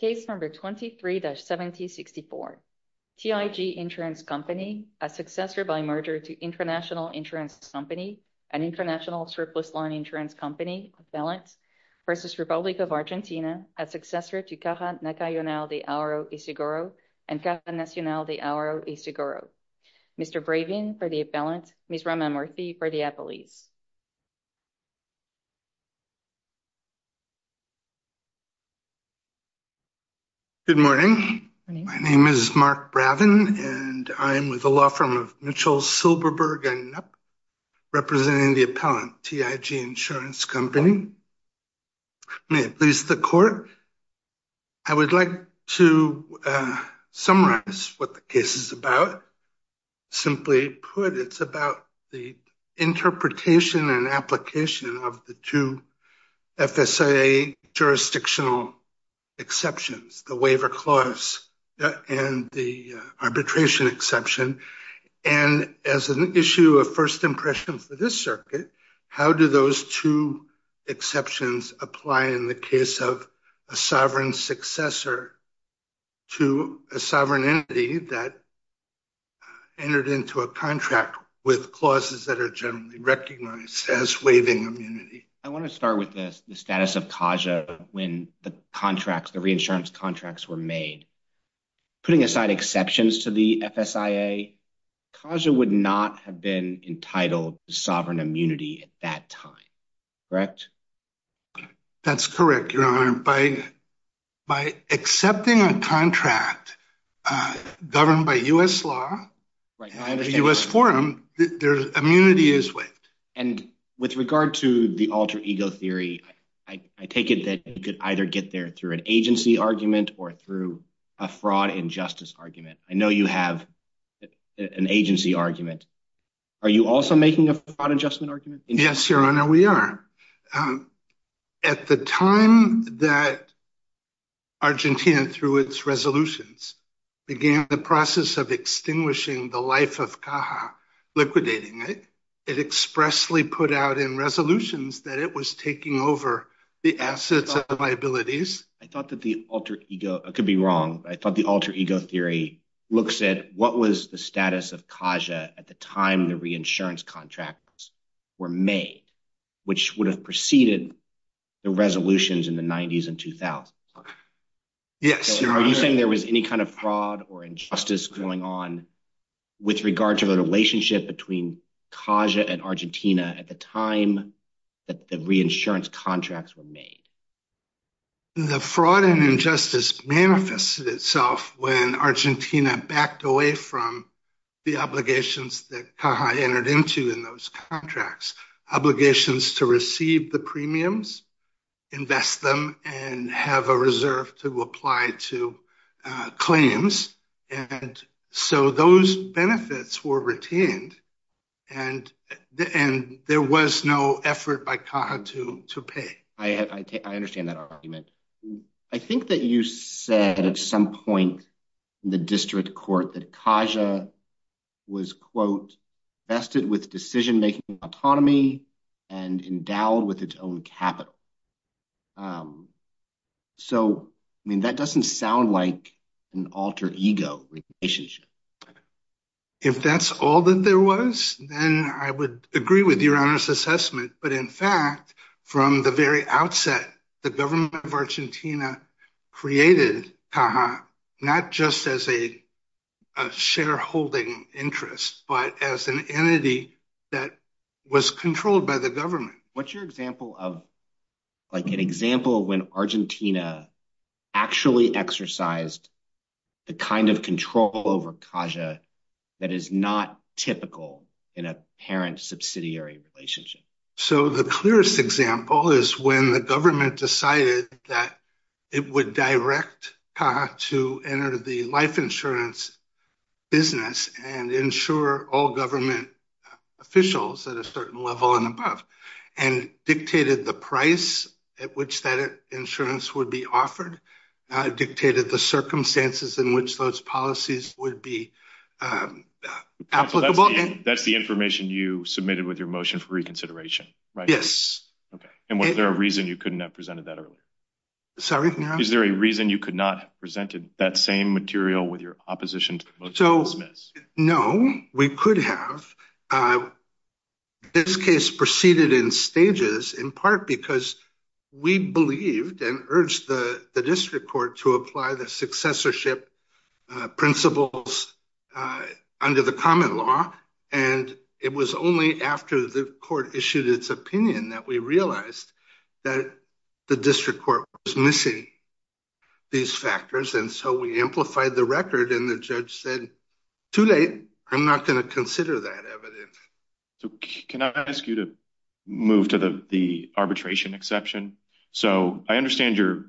Case number 23-7064. TIG Insurance Company, a successor by merger to International Insurance Company, an international surplus line insurance company, appellant, versus Republic of Argentina, a successor to Caja Nacional de Auro y Seguro and Caja Nacional de Auro y Seguro. Mr. Bravin for the appellant, Ms. Raman Murthy for the appellees. Good morning. My name is Mark Bravin, and I'm with the law firm of Mitchell Silberberg and representing the appellant, TIG Insurance Company. May it please the court, I would like to summarize what the case is about. Simply put, it's about the interpretation and application of the two jurisdictional exceptions, the waiver clause and the arbitration exception. And as an issue of first impression for this circuit, how do those two exceptions apply in the case of a sovereign successor to a sovereign entity that entered into a contract with clauses that are generally recognized as waiving immunity? I want to start with the status of Caja when the contracts, the reinsurance contracts were made. Putting aside exceptions to the FSIA, Caja would not have been entitled to sovereign immunity at that time, correct? That's correct, Your Honor. By accepting a contract governed by U.S. law, U.S. forum, their immunity is waived. And with regard to the alter ego theory, I take it that you could either get there through an agency argument or through a fraud injustice argument. I know you have an agency argument. Are you also making a fraud adjustment argument? Yes, Your Honor, we are. At the time that Argentina, through its resolutions, began the process of extinguishing the life of Caja, liquidating it, it expressly put out in resolutions that it was taking over the assets of liabilities. I thought that the alter ego, I could be wrong, I thought the alter ego theory looks at what was the status of Caja at the time the reinsurance contracts were made, which would have preceded the resolutions in the 90s and 2000s. Yes, Your Honor. Are you saying there was any kind of fraud or injustice going on with regard to the relationship between Caja and Argentina at the time that the reinsurance contracts were made? The fraud and injustice manifested itself when Argentina backed away from the obligations that Caja entered into in those contracts, obligations to receive the premiums, invest them, and have a claims. And so those benefits were retained and there was no effort by Caja to pay. I understand that argument. I think that you said at some point in the district court that Caja was, quote, vested with decision-making autonomy and endowed with its own capital. So, I mean, that doesn't sound like an alter ego relationship. If that's all that there was, then I would agree with Your Honor's assessment. But in fact, from the very outset, the government of Argentina created Caja not just as a shareholding interest, but as an entity that was controlled by the government. What's your example of, like, an example when Argentina actually exercised the kind of control over Caja that is not typical in a parent-subsidiary relationship? So the clearest example is when the government decided that it would direct Caja to enter the life insurance business and insure all government officials at a certain level and above. And dictated the price at which that insurance would be offered. Dictated the circumstances in which those policies would be applicable. That's the information you submitted with your motion for reconsideration, right? Yes. Okay. And was there a reason you couldn't have presented that earlier? Sorry? Is there a reason you could not have presented that same material with your opposition to the motion to dismiss? No. We could have. This case proceeded in stages in part because we believed and urged the district court to apply the successorship principles under the common law. And it was only after the court issued its opinion that we said, too late. I'm not going to consider that evidence. So can I ask you to move to the arbitration exception? So I understand your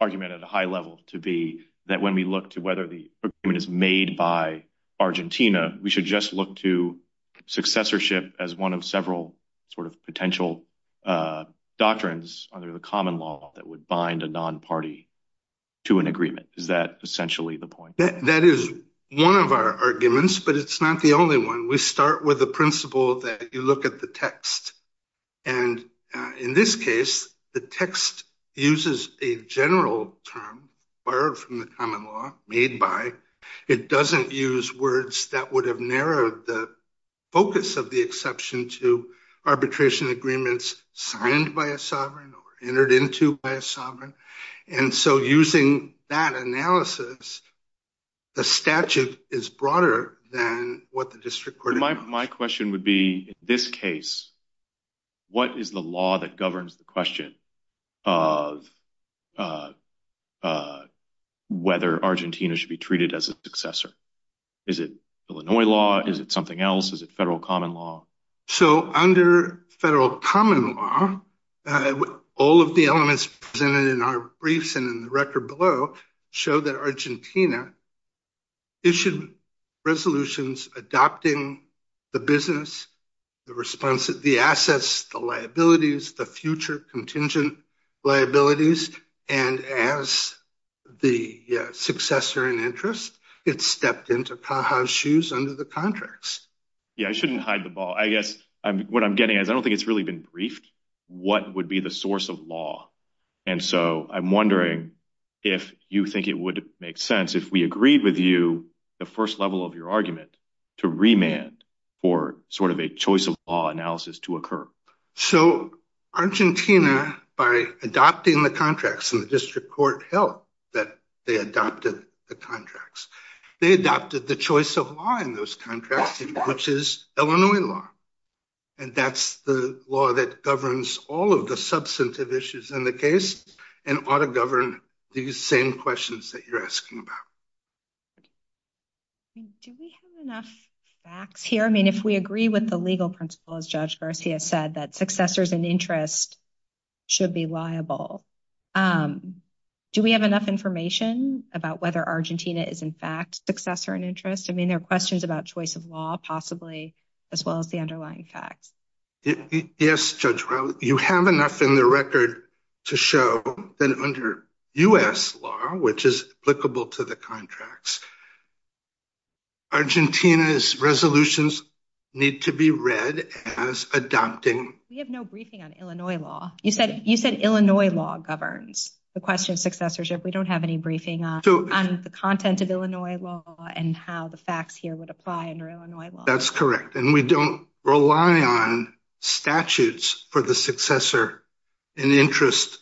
argument at a high level to be that when we look to whether the agreement is made by Argentina, we should just look to successorship as one of several sort of potential doctrines under the common law that would bind a non-party to an agreement. Is that essentially the point? That is one of our arguments, but it's not the only one. We start with the principle that you look at the text. And in this case, the text uses a general term borrowed from the common law, made by. It doesn't use words that would have narrowed the focus of the exception to arbitration agreements signed by a sovereign or entered into by a sovereign. And so using that analysis, the statute is broader than what the district court. My question would be, in this case, what is the law that governs the question of whether Argentina should be treated as a successor? Is it Illinois law? Is it something else? Is it federal common law? All of the elements presented in our briefs and in the record below show that Argentina issued resolutions adopting the business, the responses, the assets, the liabilities, the future contingent liabilities. And as the successor in interest, it stepped into Caja's shoes under the contracts. Yeah, I shouldn't hide the ball. I guess what I'm getting is I don't think it's really been briefed. What would be the source of law? And so I'm wondering if you think it would make sense if we agreed with you the first level of your argument to remand for sort of a choice of law analysis to occur. So Argentina, by adopting the contracts in the district court, held that they adopted the contracts. They adopted the choice of law in those contracts, which is Illinois law. And that's the law that governs all of the substantive issues in the case and ought to govern these same questions that you're asking about. Do we have enough facts here? I mean, if we agree with the legal principle, as Judge Garcia said, that successors in interest should be liable. Do we have enough information about whether Argentina is, in fact, successor in interest? I mean, there are questions about choice of law, possibly, as well as the underlying facts. Yes, Judge Rowe. You have enough in the record to show that under U.S. law, which is applicable to the contracts, Argentina's resolutions need to be read as adopting. We have no briefing on Illinois law. You said Illinois law governs the question of how the facts here would apply under Illinois law. That's correct. And we don't rely on statutes for the successor in interest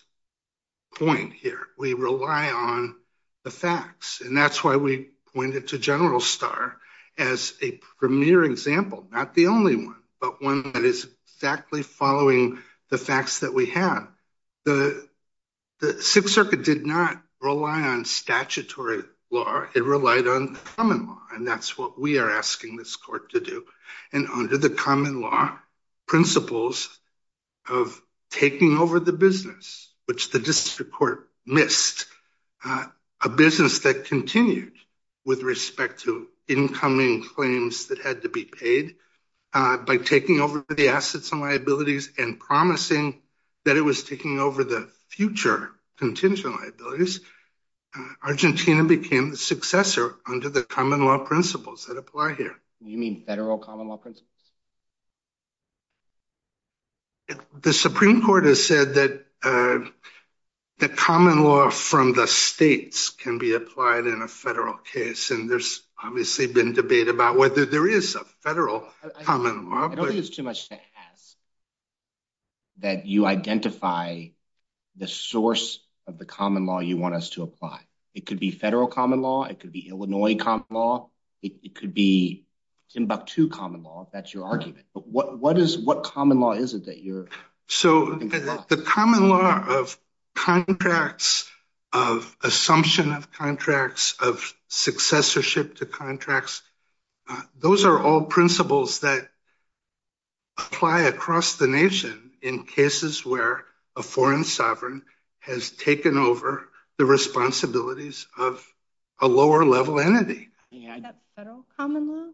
point here. We rely on the facts. And that's why we pointed to General Star as a premier example, not the only one, but one that is exactly following the facts that we have. The Sixth Circuit did not rely on statutory law. It relied on common law. And that's what we are asking this court to do. And under the common law principles of taking over the business, which the district court missed, a business that continued with respect to incoming claims that had to be paid by taking over the assets and liabilities and promising that it was taking over the future contingent liabilities, Argentina became the successor under the common law principles that apply here. You mean federal common law principles? The Supreme Court has said that the common law from the states can be applied in a federal case. And there's obviously been a debate about whether there is a federal common law. I don't think it's too much to ask that you identify the source of the common law you want us to apply. It could be federal common law. It could be Illinois common law. It could be Timbuktu common law, if that's your argument. But what common law is it that you're looking for? So the common law of contracts, of those are all principles that apply across the nation in cases where a foreign sovereign has taken over the responsibilities of a lower level entity. Federal common law?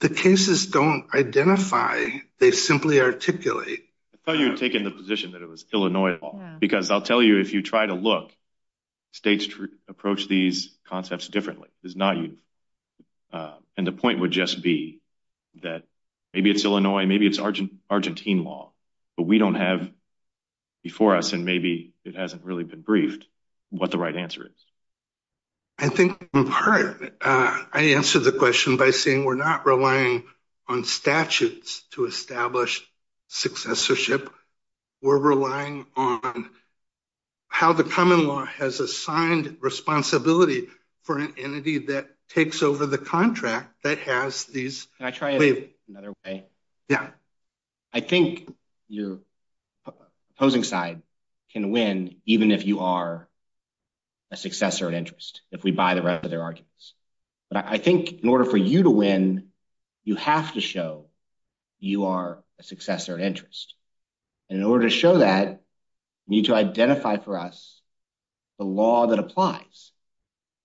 The cases don't identify, they simply articulate. I thought you had taken the position that it was Illinois law. Because I'll tell you, if you try to look, states approach these concepts differently. And the point would just be that maybe it's Illinois, maybe it's Argentine law. But we don't have before us, and maybe it hasn't really been briefed, what the right answer is. I think in part, I answered the question by saying we're not relying on statutes to establish successorship. We're relying on how the common law has assigned responsibility for an entity that takes over the contract that has these... Can I try it another way? Yeah. I think your opposing side can win, even if you are a successor of interest, if we buy the rest of their arguments. But I think in order for you to win, you have to show you are a successor of interest. And in order to show that, you need to identify for us the law that applies.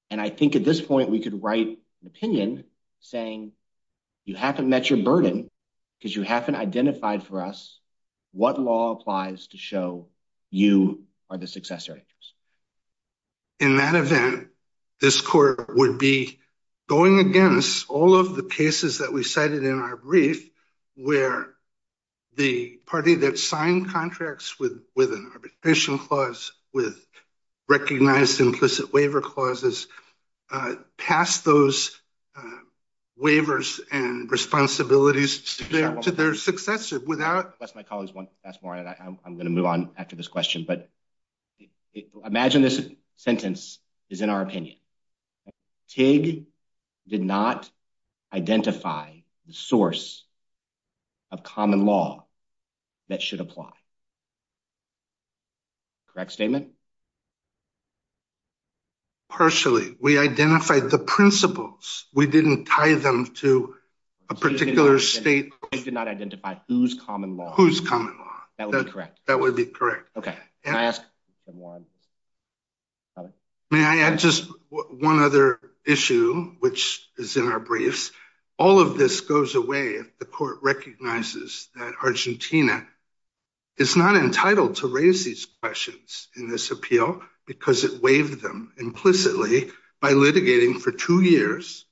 And I think at this point, we could write an opinion saying, you haven't met your burden, because you haven't identified for us what law applies to show you are the successor of interest. In that event, this court would be going against all of the cases that we cited in our brief, where the party that signed contracts with an arbitration clause, with recognized implicit waiver clauses, passed those waivers and responsibilities to their successor without... Unless my colleagues want to ask more, I'm going to move on after this question. But a common law that should apply. Correct statement? Partially. We identified the principles. We didn't tie them to a particular state. You did not identify whose common law? Whose common law? That would be correct. That would be correct. Okay. Can I ask one? May I add just one other issue, which is in our briefs? All of this goes away if the court recognizes that Argentina is not entitled to raise these questions in this appeal, because it waived them implicitly by litigating for two years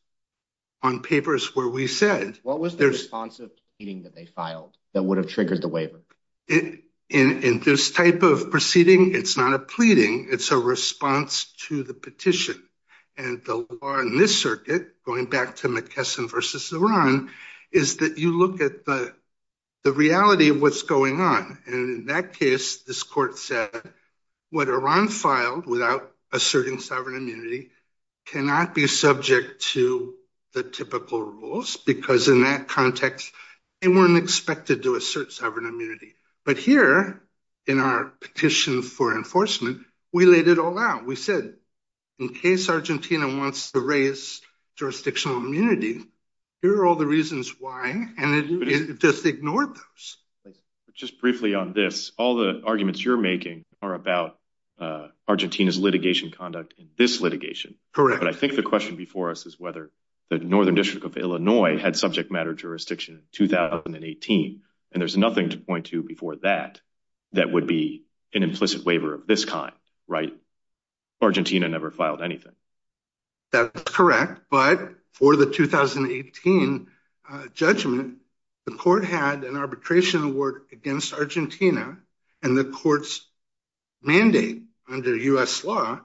on papers where we said... What was the response of the meeting that they filed that would have triggered the waiver? In this type of proceeding, it's not a pleading. It's a response to the petition. And the law in this circuit, going back to McKesson versus Iran, is that you look at the reality of what's going on. And in that case, this court said, what Iran filed without asserting sovereign immunity cannot be subject to the typical rules, because in that context, they weren't expected to assert sovereign immunity. But here, in our petition for enforcement, we laid it all out. We said, in case Argentina wants to raise jurisdictional immunity, here are all the reasons why, and it just ignored those. Just briefly on this, all the arguments you're making are about Argentina's litigation conduct in this litigation. Correct. I think the question before us is whether the Northern District of Illinois had subject matter jurisdiction in 2018, and there's nothing to point to before that, that would be an implicit waiver of this kind, right? Argentina never filed anything. That's correct. But for the 2018 judgment, the court had an arbitration work against Argentina, and the court's mandate under U.S. law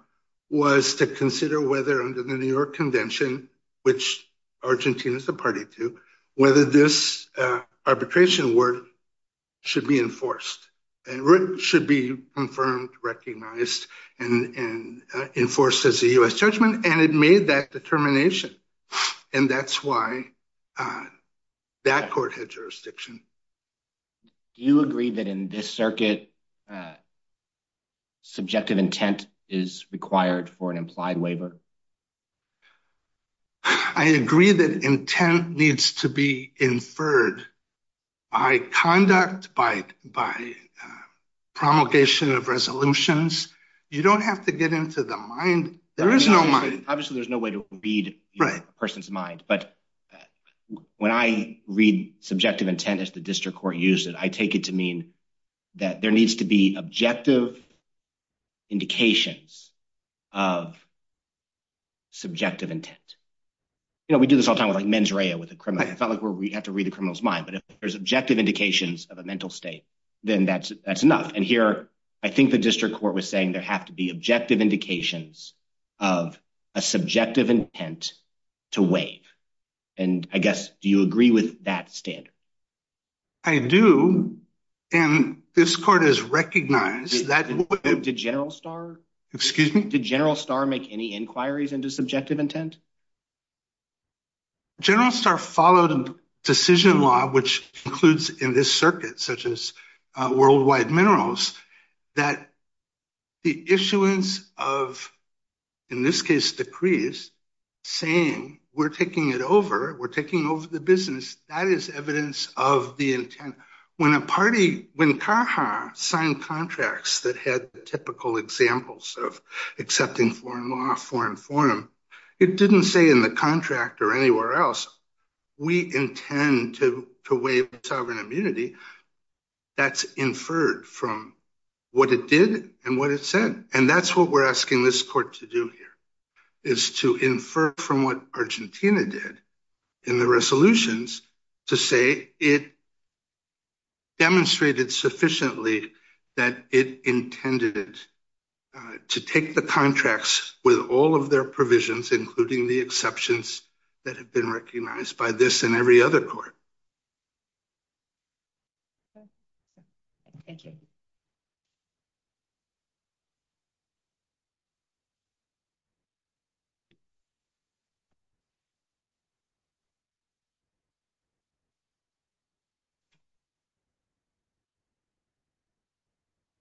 was to consider whether under the New York Convention, which Argentina is a party to, whether this arbitration work should be enforced, and should be confirmed, recognized, and enforced as a U.S. judgment, and it made that determination. And that's why that court had jurisdiction. Do you agree that in this circuit, subjective intent is required for an implied waiver? I agree that intent needs to be inferred by conduct, by promulgation of resolutions. You don't have to get into the mind. There is no mind. Obviously, there's no way to read a person's mind, but when I read subjective intent, as the district court used it, I take it to mean that there needs to be objective indications of subjective intent. You know, we do this all the time with, like, mens rea, with the criminal. It's not like we have to read the criminal's mind, but if there's objective indications of a mental state, then that's enough. And here, I think the district court was saying there have to be objective indications of a subjective intent to waive. And I guess, do you agree with that standard? I do. And this court has recognized that... Did General Starr... Excuse me? Did General Starr make any inquiries into subjective intent? General Starr followed a decision law, which includes in this circuit, such as worldwide minerals, that the issuance of, in this case, decrees, saying we're taking it over, we're taking it over. When a party, when CAJA signed contracts that had the typical examples of accepting foreign law, foreign forum, it didn't say in the contract or anywhere else, we intend to waive sovereign immunity. That's inferred from what it did and what it said. And that's what we're asking this court to do here, is to infer from what Argentina did in the resolutions, to say it demonstrated sufficiently that it intended to take the contracts with all of their provisions, including the exceptions that have been recognized by this and every other court. Thank you.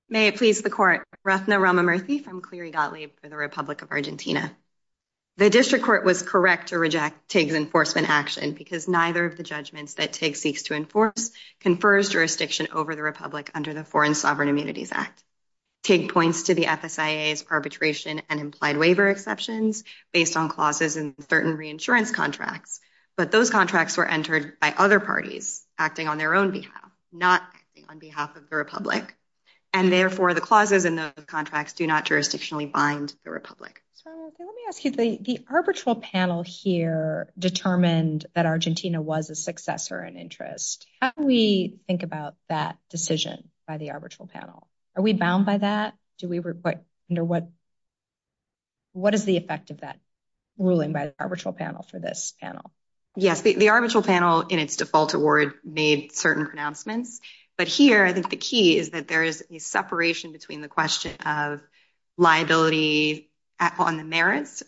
May it please the court, Ratna Ramamurthy from Cleary Gottlieb for the Republic of Argentina. The district court was correct to reject TIG's enforcement action because neither of the judgments that TIG seeks to enforce confers jurisdiction over the Republic under the Foreign Sovereign Immunities Act. TIG points to the FSIA's perpetration and implied waiver exceptions based on clauses in certain reinsurance contracts, but those contracts were entered by other parties acting on their own behalf, not on behalf of the Republic. And therefore, the arbitral panel here determined that Argentina was a successor in interest. How do we think about that decision by the arbitral panel? Are we bound by that? What is the effect of that ruling by the arbitral panel for this panel? Yes, the arbitral panel in its default award made certain pronouncements. But here, I think the key is that there is a separation between the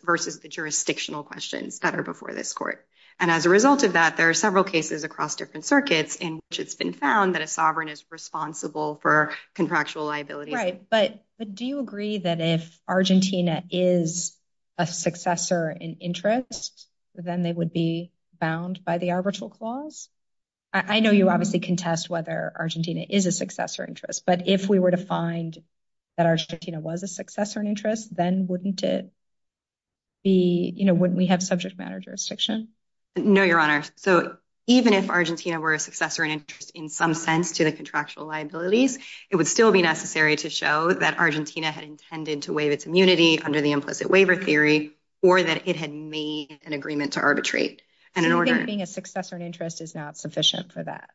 versus the jurisdictional questions that are before this court. And as a result of that, there are several cases across different circuits in which it's been found that a sovereign is responsible for contractual liabilities. Right. But do you agree that if Argentina is a successor in interest, then they would be bound by the arbitral clause? I know you obviously contest whether Argentina is a successor interest, but if we were to find that Argentina was a successor in interest, wouldn't we have subject matter jurisdiction? No, Your Honor. So even if Argentina were a successor in interest in some sense to the contractual liabilities, it would still be necessary to show that Argentina had intended to waive its immunity under the implicit waiver theory, or that it had made an agreement to arbitrate. So you think being a successor in interest is not sufficient for that?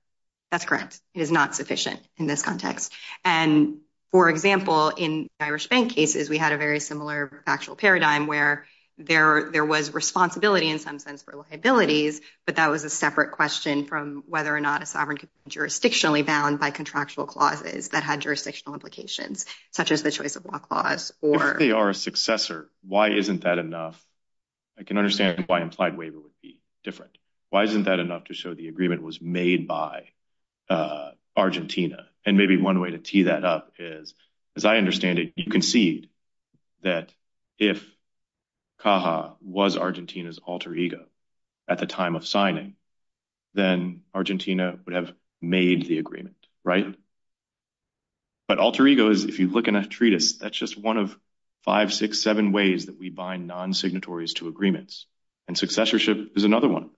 That's correct. It is not sufficient in this context. And for example, in Irish bank cases, we had a very similar factual paradigm where there was responsibility in some sense for liabilities, but that was a separate question from whether or not a sovereign could be jurisdictionally bound by contractual clauses that had jurisdictional implications, such as the choice of law clause or... If they are a successor, why isn't that enough? I can understand why implied waiver would be different. Why isn't that enough to show the agreement was made by Argentina? And maybe one way to tee that up is, as I understand it, you concede that if Caja was Argentina's alter ego at the time of signing, then Argentina would have made the agreement, right? But alter ego is, if you look in a treatise, that's just one of five, six, seven ways that we bind non-signatories to agreements. And successorship is another one.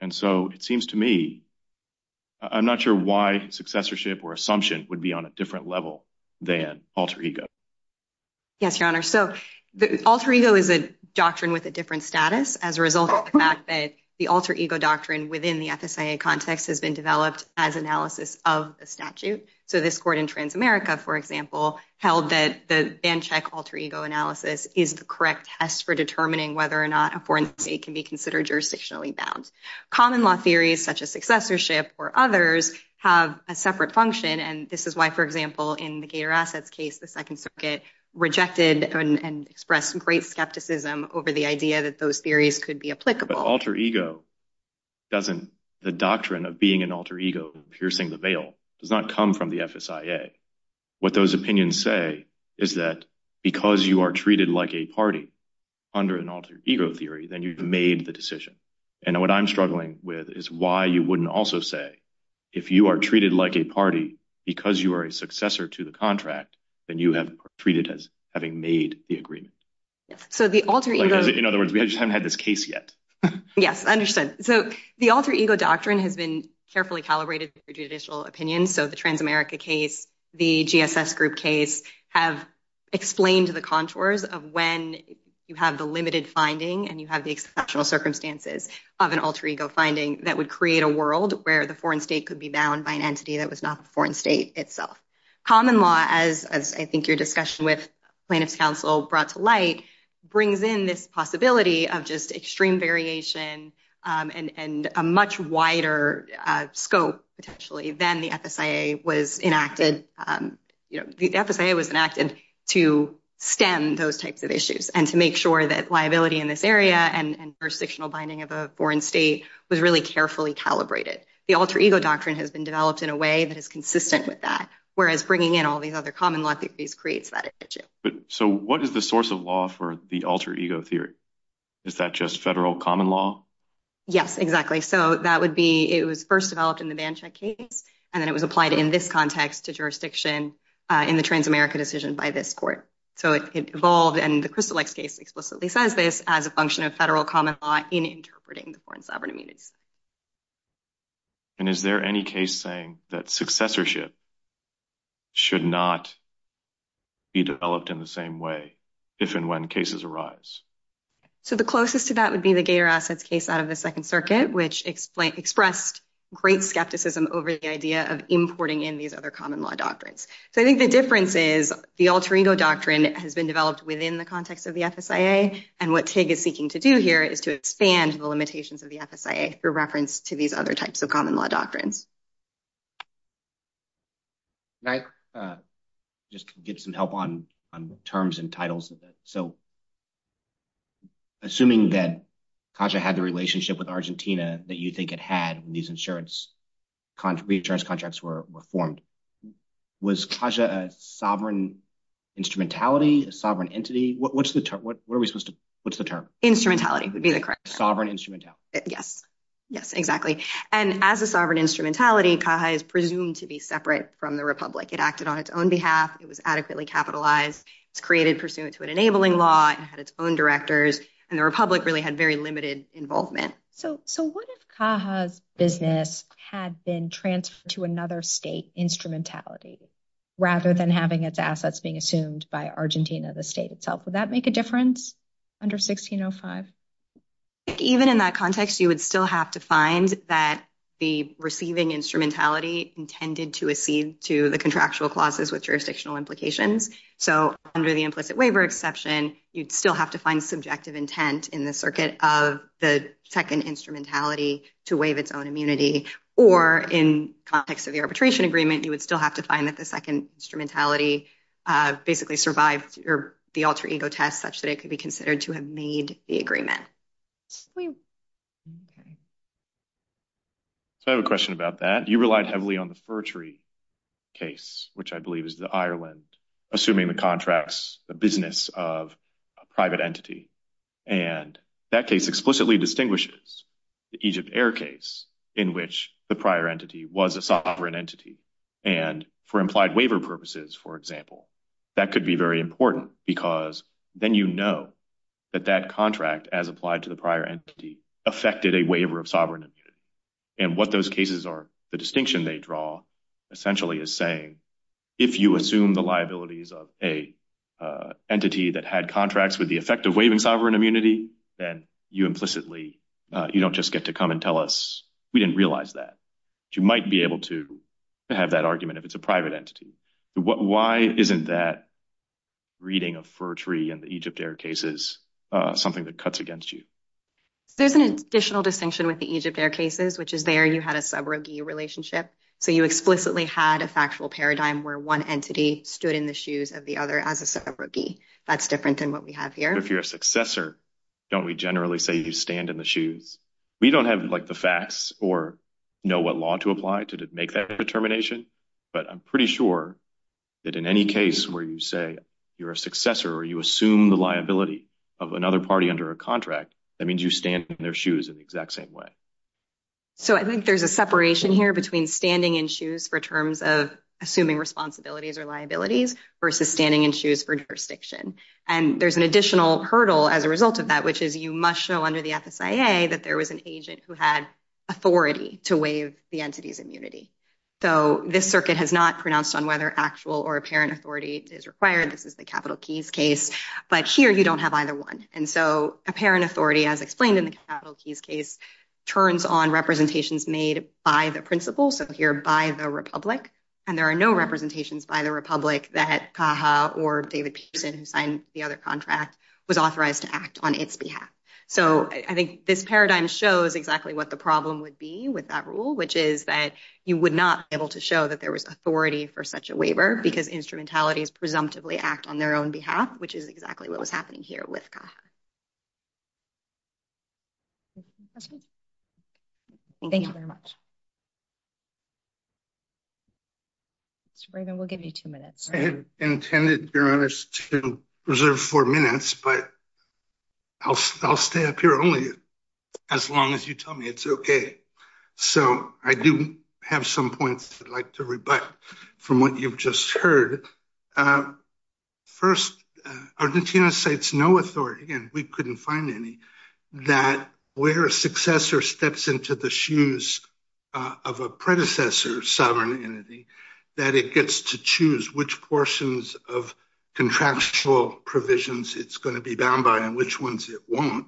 And so it seems to me, I'm not sure why successorship or assumption would be on a different level than alter ego. Yes, Your Honor. So alter ego is a doctrine with a different status as a result of the fact that the alter ego doctrine within the FSIA context has been developed as analysis of the statute. So this court in Transamerica, for example, held that the Bancheck alter ego analysis is the correct test for determining whether or not a foreign state can be considered jurisdictionally bound. Common law theories, such as successorship or others, have a separate function. And this is why, for example, in the Gator Assets case, the Second Circuit rejected and expressed some great skepticism over the idea that those theories could be applicable. But alter ego doesn't, the doctrine of being an alter ego and piercing the veil does not come from the FSIA. What those opinions say is that because you are treated like a party under an alter ego theory, then you've made the decision. And what I'm struggling with is why you wouldn't also say if you are treated like a party because you are a successor to the contract, then you have treated as having made the agreement. So the alter ego... In other words, we just haven't had this case yet. Yes, I understand. So the alter ego doctrine has been carefully calibrated for judicial opinions. So the Transamerica case, the GSS group case, have explained the contours of when you have the limited finding and you have the exceptional circumstances of an alter ego finding that would create a world where the foreign state could be bound by an entity that was not the foreign state itself. Common law, as I think your discussion with plaintiff's counsel brought to light, brings in this possibility of just extreme variation and a much wider scope potentially than the FSIA was enacted. The FSIA was enacted to stem those binding of a foreign state was really carefully calibrated. The alter ego doctrine has been developed in a way that is consistent with that, whereas bringing in all these other common law theories creates that issue. So what is the source of law for the alter ego theory? Is that just federal common law? Yes, exactly. So that would be... It was first developed in the Bancheck case and then it was applied in this context to jurisdiction in the Transamerica decision by this court. So it evolved and the Crystal Lake case explicitly says this as a function of federal common law in interpreting the foreign sovereign immunities. And is there any case saying that successorship should not be developed in the same way if and when cases arise? So the closest to that would be the Gator Assets case out of the Second Circuit, which expressed great skepticism over the idea of importing in these other common law doctrines. So I think the difference is the alter ego doctrine has been developed within the context of the FSIA and what TIG is seeking to do is to expand the limitations of the FSIA through reference to these other types of common law doctrines. Can I just get some help on terms and titles? So assuming that CAJA had the relationship with Argentina that you think it had when these insurance contracts were formed, was CAJA a sovereign instrumentality, a sovereign entity? What's the term? Instrumentality would be the correct. Sovereign instrumentality. Yes. Yes, exactly. And as a sovereign instrumentality, CAJA is presumed to be separate from the Republic. It acted on its own behalf. It was adequately capitalized. It's created pursuant to an enabling law. It had its own directors and the Republic really had very limited involvement. So what if CAJA's business had been transferred to another state instrumentality rather than having its assets being assumed by the Republic? Even in that context, you would still have to find that the receiving instrumentality intended to accede to the contractual clauses with jurisdictional implications. So under the implicit waiver exception, you'd still have to find subjective intent in the circuit of the second instrumentality to waive its own immunity. Or in context of the arbitration agreement, you would still have to find that the second instrumentality basically survived the alter to have made the agreement. So I have a question about that. You relied heavily on the Firtree case, which I believe is the Ireland, assuming the contracts, the business of a private entity. And that case explicitly distinguishes the Egypt Air case in which the prior entity was a sovereign entity. And for implied waiver purposes, for example, that could be very important because then you know that that contract, as applied to the prior entity, affected a waiver of sovereign immunity. And what those cases are, the distinction they draw essentially is saying if you assume the liabilities of a entity that had contracts with the effect of waiving sovereign immunity, then you implicitly, you don't just get to come and tell us we didn't realize that. You might be able to have that argument if it's a private entity. Why isn't that reading of Firtree and the Egypt Air cases something that cuts against you? There's an additional distinction with the Egypt Air cases, which is there you had a subrogee relationship. So you explicitly had a factual paradigm where one entity stood in the shoes of the other as a subrogee. That's different than what we have here. If you're a successor, don't we generally say you stand in the shoes? We don't have like the facts or know what law to apply to make that determination. But I'm pretty sure that in any case where you say you're a successor or you assume the liability of another party under a contract, that means you stand in their shoes in the exact same way. So I think there's a separation here between standing in shoes for terms of assuming responsibilities or liabilities versus standing in shoes for jurisdiction. And there's an additional hurdle as a result of that, which is you must show under the FSIA that there was an agent who had authority to waive the entity's immunity. So this circuit has not pronounced on whether actual or apparent authority is required. This is the capital keys case. But here you don't have either one. And so apparent authority, as explained in the capital keys case, turns on representations made by the principal, so here by the republic. And there are no representations by the republic that Caja or So I think this paradigm shows exactly what the problem would be with that rule, which is that you would not be able to show that there was authority for such a waiver because instrumentalities presumptively act on their own behalf, which is exactly what was happening here with Caja. Thank you very much. Mr. Brayden, we'll give you two minutes. I had intended, Your Honor, to reserve four minutes, but I'll stay up here only as long as you tell me it's okay. So I do have some points I'd like to rebut from what you've just heard. First, Argentina cites no authority, and we couldn't find any, that where a successor steps into the shoes of a predecessor sovereign entity, that it gets to choose which portions of contractual provisions it's going to be bound by and which ones it won't.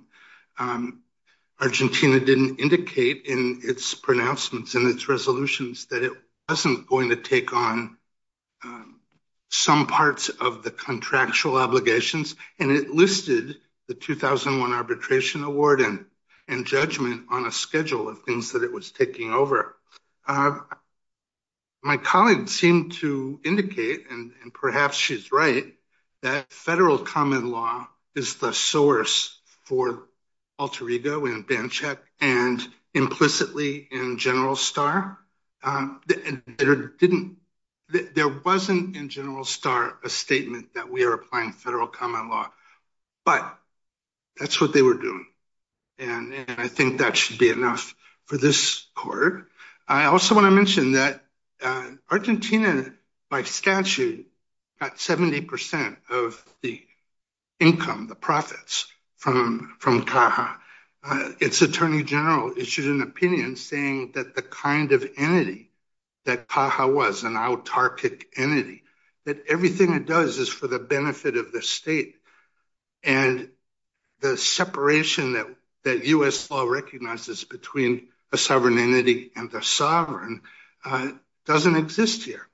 Argentina didn't indicate in its pronouncements and its resolutions that it wasn't going to take on some parts of the contractual obligations, and it listed the 2001 to indicate, and perhaps she's right, that federal common law is the source for alter ego and ban check and implicitly in General Star. There wasn't in General Star a statement that we are applying federal common law, but that's what they were doing, and I think that should be enough for this court. I also want to mention that Argentina, by statute, got 70% of the income, the profits, from Caja. Its attorney general issued an opinion saying that the kind of entity that Caja was, an autarkic entity, that everything it does is for the benefit of the state, and the separation that U.S. law recognizes between a sovereign entity and the sovereign doesn't exist here.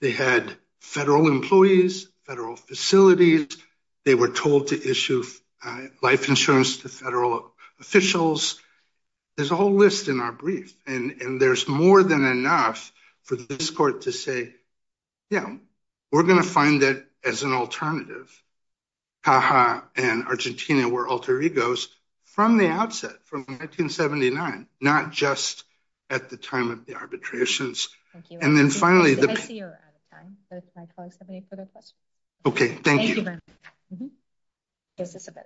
They had federal employees, federal facilities. They were told to issue life insurance to federal officials. There's a whole list in our brief, and there's more than Caja and Argentina were alter egos from the outset, from 1979, not just at the time of the arbitrations. Thank you. And then finally... I see you're out of time, but if my colleagues have any further questions. Okay, thank you. Thank you, Ben.